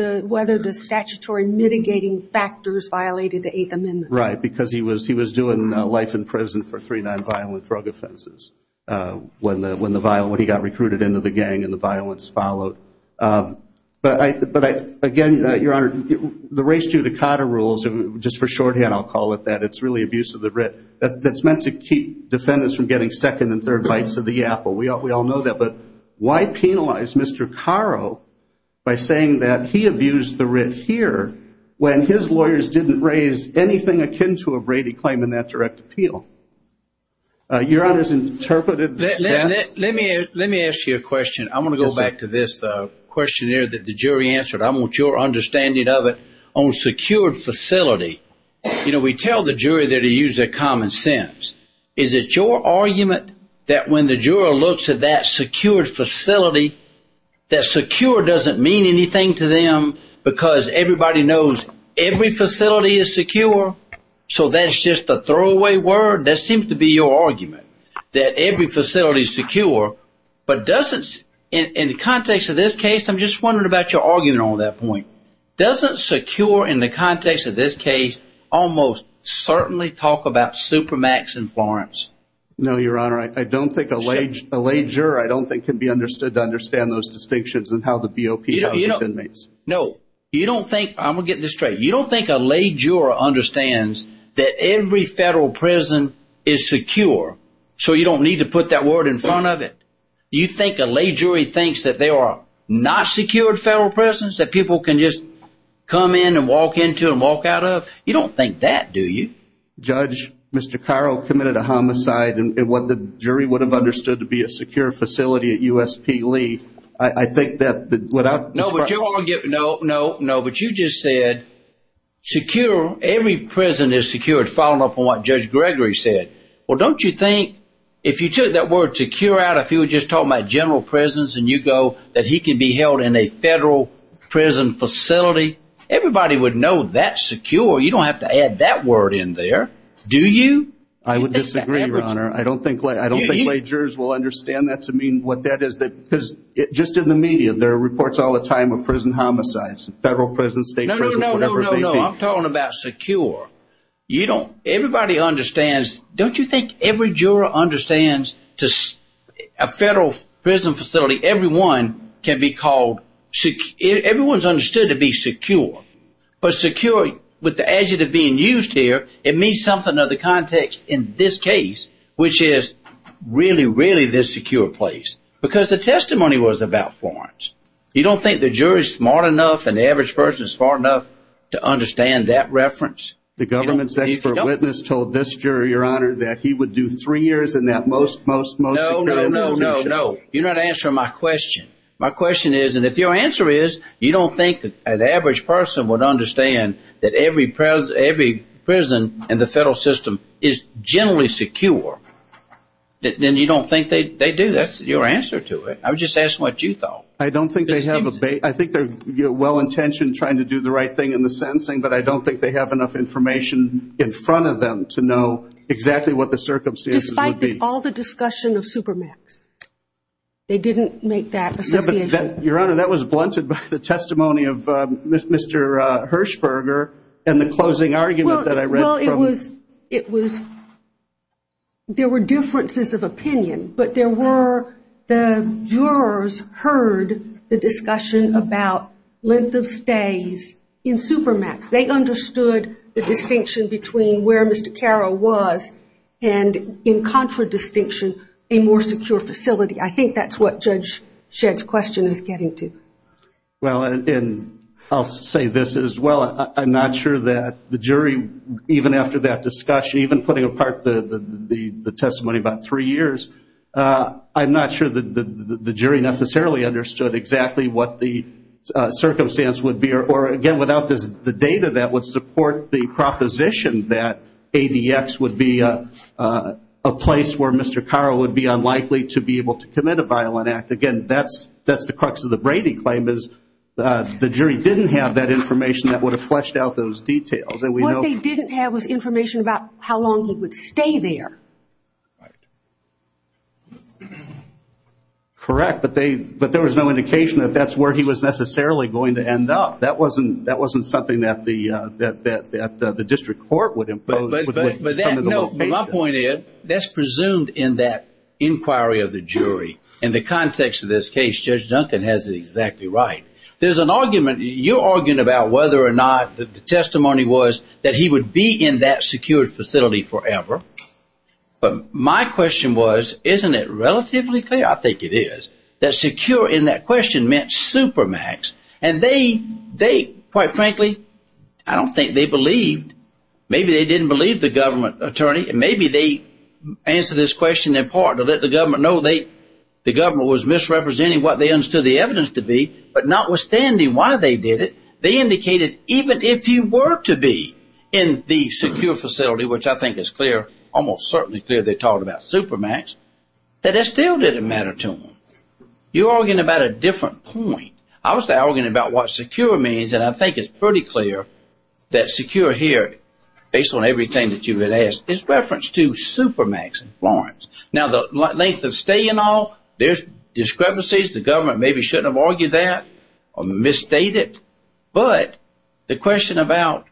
was on whether the statutory mitigating factors violated the Eighth Amendment. Right, because he was doing life in prison for three nonviolent drug offenses when he got recruited into the gang and the violence followed. But again, your honor, the race judicata rules, just for shorthand I'll call it that, it's really abuse of the writ that's meant to keep defendants from getting second and third bites of the apple. We all know that. But why penalize Mr. Caro by saying that he abused the writ here when his lawyers didn't raise anything akin to a Brady claim in that direct appeal? Let me ask you a question. I'm going to go back to this questionnaire that the jury answered. I want your understanding of it. On secured facility, you know, we tell the jury there to use their common sense. Is it your argument that when the juror looks at that secured facility, that secure doesn't mean anything to them because everybody knows every facility is secure? So that's just a throwaway word? That seems to be your argument, that every facility is secure. But in the context of this case, I'm just wondering about your argument on that point. Doesn't secure in the context of this case almost certainly talk about Supermax in Florence? No, your honor. I don't think a lay juror I don't think can be understood to understand those distinctions and how the BOP houses inmates. No. You don't think, I'm going to get this straight, you don't think a lay juror understands that every federal prison is secure, so you don't need to put that word in front of it? You think a lay jury thinks that there are not secured federal prisons that people can just come in and walk into and walk out of? You don't think that, do you? Judge, Mr. Carro committed a homicide, and what the jury would have understood to be a secure facility at USP Lee, I think that without No, but you just said secure, every prison is secure, following up on what Judge Gregory said. Well, don't you think if you took that word secure out, if you were just talking about general prisons, and you go that he can be held in a federal prison facility, everybody would know that's secure. You don't have to add that word in there, do you? I would disagree, your honor. I don't think lay jurors will understand that to mean what that is. Just in the media, there are reports all the time of prison homicides, federal prisons, state prisons, whatever they be. No, no, no, I'm talking about secure. Everybody understands. Don't you think every juror understands a federal prison facility, everyone can be called secure. Everyone's understood to be secure. But secure, with the adjective being used here, it means something of the context in this case, which is really, really this secure place. Because the testimony was about Florence. You don't think the jury is smart enough and the average person is smart enough to understand that reference? The government's expert witness told this jury, your honor, that he would do three years in that most secure institution. No, no, no, you're not answering my question. My question is, and if your answer is you don't think an average person would understand that every prison in the federal system is generally secure, then you don't think they do. That's your answer to it. I was just asking what you thought. I don't think they have a base. I think they're well-intentioned trying to do the right thing in the sentencing, but I don't think they have enough information in front of them to know exactly what the circumstances would be. Despite all the discussion of Supermax. They didn't make that association. Your honor, that was blunted by the testimony of Mr. Hershberger and the closing argument that I read. Well, there were differences of opinion, but the jurors heard the discussion about length of stays in Supermax. They understood the distinction between where Mr. Carroll was and, in contradistinction, a more secure facility. I think that's what Judge Shedd's question is getting to. Well, and I'll say this as well. I'm not sure that the jury, even after that discussion, even putting apart the testimony about three years, I'm not sure that the jury necessarily understood exactly what the circumstance would be, or, again, without the data that would support the proposition that ADX would be a place where Mr. Carroll would be unlikely to be able to commit a violent act. Again, that's the crux of the Brady claim, is the jury didn't have that information that would have fleshed out those details. What they didn't have was information about how long he would stay there. Correct, but there was no indication that that's where he was necessarily going to end up. That wasn't something that the district court would impose. My point is, that's presumed in that inquiry of the jury. In the context of this case, Judge Duncan has it exactly right. There's an argument. You're arguing about whether or not the testimony was that he would be in that secured facility forever. But my question was, isn't it relatively clear? I think it is. That secure in that question meant supermax. And they, quite frankly, I don't think they believed. Maybe they didn't believe the government attorney, and maybe they answered this question in part to let the government know the government was misrepresenting what they understood the evidence to be. But notwithstanding why they did it, they indicated even if he were to be in the secure facility, which I think is almost certainly clear they're talking about supermax, that it still didn't matter to them. You're arguing about a different point. I was arguing about what secure means, and I think it's pretty clear that secure here, based on everything that you had asked, is reference to supermax in Florence. Now, the length of stay and all, there's discrepancies. The government maybe shouldn't have argued that or misstated. But the question about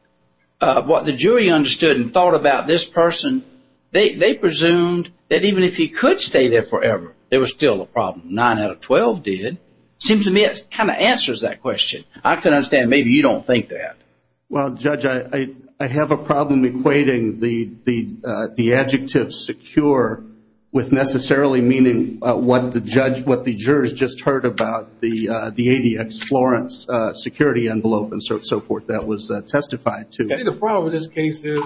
what the jury understood and thought about this person, they presumed that even if he could stay there forever, there was still a problem. Nine out of 12 did. It seems to me it kind of answers that question. I can understand maybe you don't think that. Well, Judge, I have a problem equating the adjective secure with necessarily meaning what the jurors just heard about the ADX Florence security envelope and so forth that was testified to. I think the problem with this case is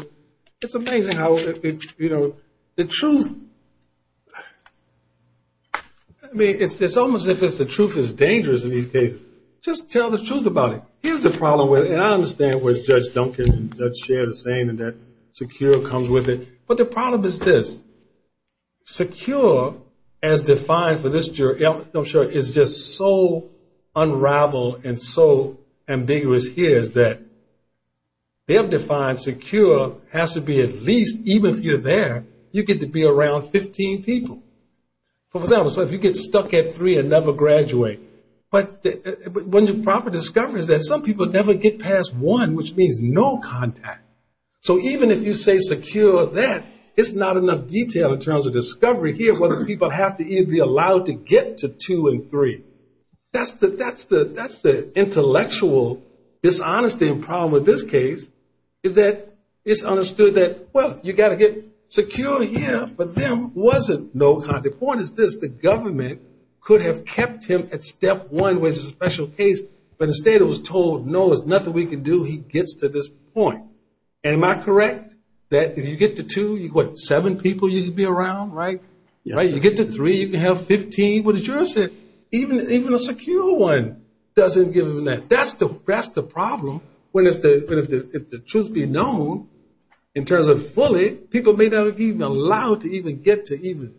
it's amazing how the truth, I mean, it's almost as if the truth is dangerous in these cases. Just tell the truth about it. Here's the problem with it, and I understand what Judge Duncan and Judge Sherr are saying in that secure comes with it. But the problem is this. Secure, as defined for this jury, I'm sure, is just so unraveled and so ambiguous here is that they have defined secure has to be at least, even if you're there, you get to be around 15 people. For example, so if you get stuck at three and never graduate. But when the proper discovery is that some people never get past one, which means no contact. So even if you say secure that, it's not enough detail in terms of discovery here whether people have to either be allowed to get to two and three. That's the intellectual dishonesty and problem with this case, is that it's understood that, well, you've got to get secure here, but there wasn't no contact. The point is this. The government could have kept him at step one, which is a special case, but the state was told, no, there's nothing we can do. He gets to this point. Am I correct that if you get to two, what, seven people you can be around, right? You get to three, you can have 15. What the jurors said, even a secure one doesn't give them that. That's the problem. If the truth be known in terms of fully, people may not be allowed to even get to even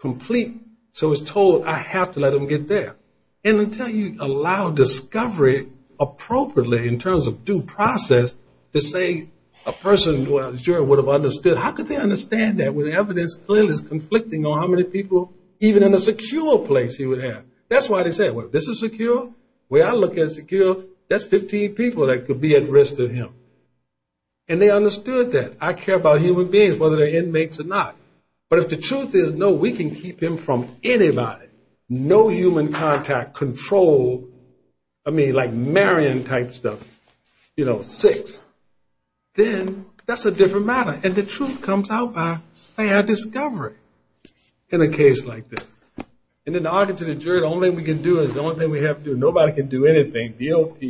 complete, so it's told I have to let them get there. And until you allow discovery appropriately in terms of due process to say a person, well, the juror would have understood. How could they understand that when the evidence clearly is conflicting on how many people even in a secure place he would have? That's why they said, well, if this is secure, the way I look at secure, that's 15 people that could be at risk to him. And they understood that. I care about human beings, whether they're inmates or not. But if the truth is, no, we can keep him from anybody, no human contact, control, I mean like marrying type stuff, you know, six, then that's a different matter. And the truth comes out by, say, a discovery in a case like this. And in the Arkansas jury, the only thing we can do is the only thing we have to do, nobody can do anything, DOP,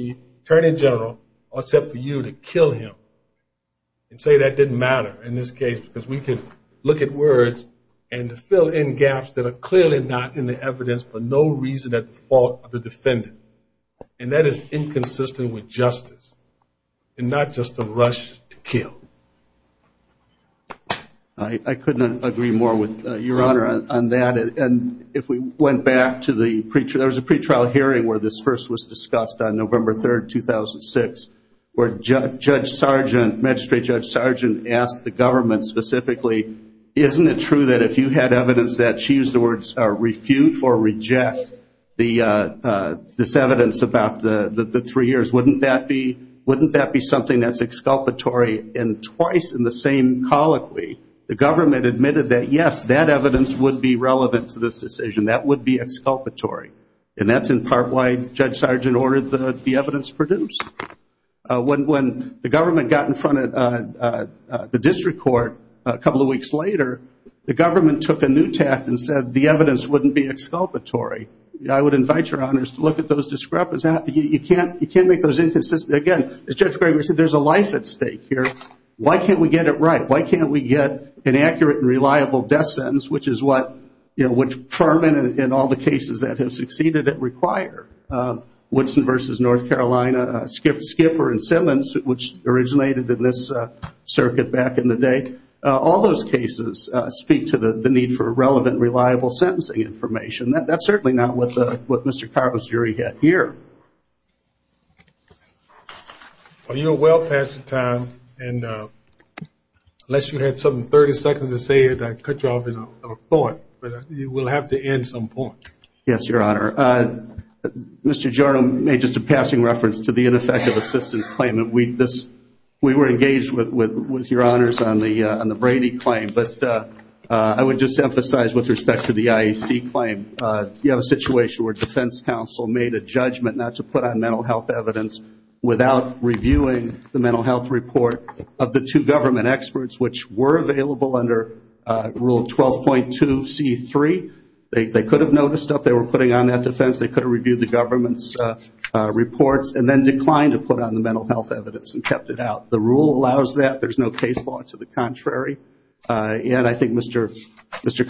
attorney general, except for you to kill him. And say that didn't matter in this case because we could look at words and fill in gaps that are clearly not in the evidence for no reason at the fault of the defendant. And that is inconsistent with justice and not just a rush to kill. I couldn't agree more with Your Honor on that. And if we went back to the pretrial, the pretrial hearing where this first was discussed on November 3rd, 2006, where Judge Sergeant, Magistrate Judge Sergeant, asked the government specifically, isn't it true that if you had evidence that she used the words refute or reject this evidence about the three years, wouldn't that be something that's exculpatory? And twice in the same colloquy, the government admitted that, yes, that evidence would be relevant to this decision. That would be exculpatory. And that's in part why Judge Sergeant ordered the evidence produced. When the government got in front of the district court a couple of weeks later, the government took a new tact and said the evidence wouldn't be exculpatory. I would invite Your Honors to look at those discrepancies. You can't make those inconsistent. Again, as Judge Gregory said, there's a life at stake here. Why can't we get it right? Why can't we get an accurate and reliable death sentence, which is what Furman and all the cases that have succeeded it require? Woodson v. North Carolina, Skipper and Simmons, which originated in this circuit back in the day, all those cases speak to the need for relevant, reliable sentencing information. That's certainly not what Mr. Carver's jury had here. Well, you're well past your time. Unless you had some 30 seconds to say it, I'd cut you off in a thought. But you will have to end some point. Yes, Your Honor. Mr. Giorno made just a passing reference to the ineffective assistance claim. We were engaged with Your Honors on the Brady claim. But I would just emphasize with respect to the IEC claim, you have a situation where defense counsel made a judgment not to put on the mental health report of the two government experts, which were available under Rule 12.2C3. They could have noticed that they were putting on that defense. They could have reviewed the government's reports and then declined to put on the mental health evidence and kept it out. The rule allows that. There's no case law to the contrary. And I think Mr.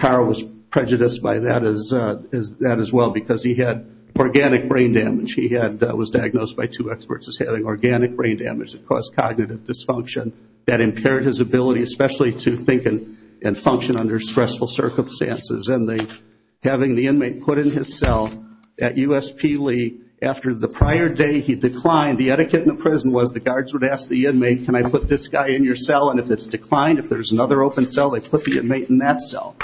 Carver was prejudiced by that as well because he had organic brain damage. He was diagnosed by two experts as having organic brain damage that caused cognitive dysfunction that impaired his ability especially to think and function under stressful circumstances. And having the inmate put in his cell at USP Lee after the prior day he declined, the etiquette in the prison was the guards would ask the inmate, can I put this guy in your cell? And if it's declined, if there's another open cell, they put the inmate in that cell.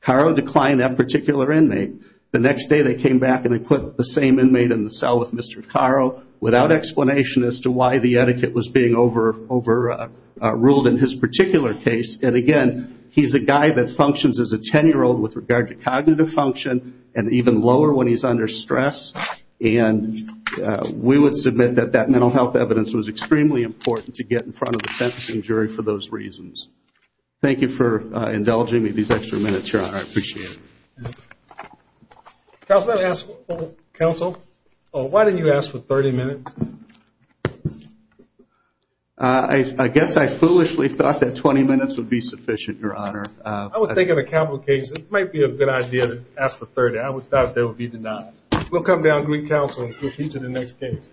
Carver declined that particular inmate. The next day they came back and they put the same inmate in the cell with Mr. Carver without explanation as to why the etiquette was being overruled in his particular case. And, again, he's a guy that functions as a 10-year-old with regard to cognitive function and even lower when he's under stress. And we would submit that that mental health evidence was extremely important to get in front of the sentencing jury for those reasons. Thank you for indulging me these extra minutes, Your Honor. I appreciate it. Counsel, why didn't you ask for 30 minutes? I guess I foolishly thought that 20 minutes would be sufficient, Your Honor. I would think in a capital case it might be a good idea to ask for 30. I would have thought there would be denied. We'll come down and greet counsel and proceed to the next case.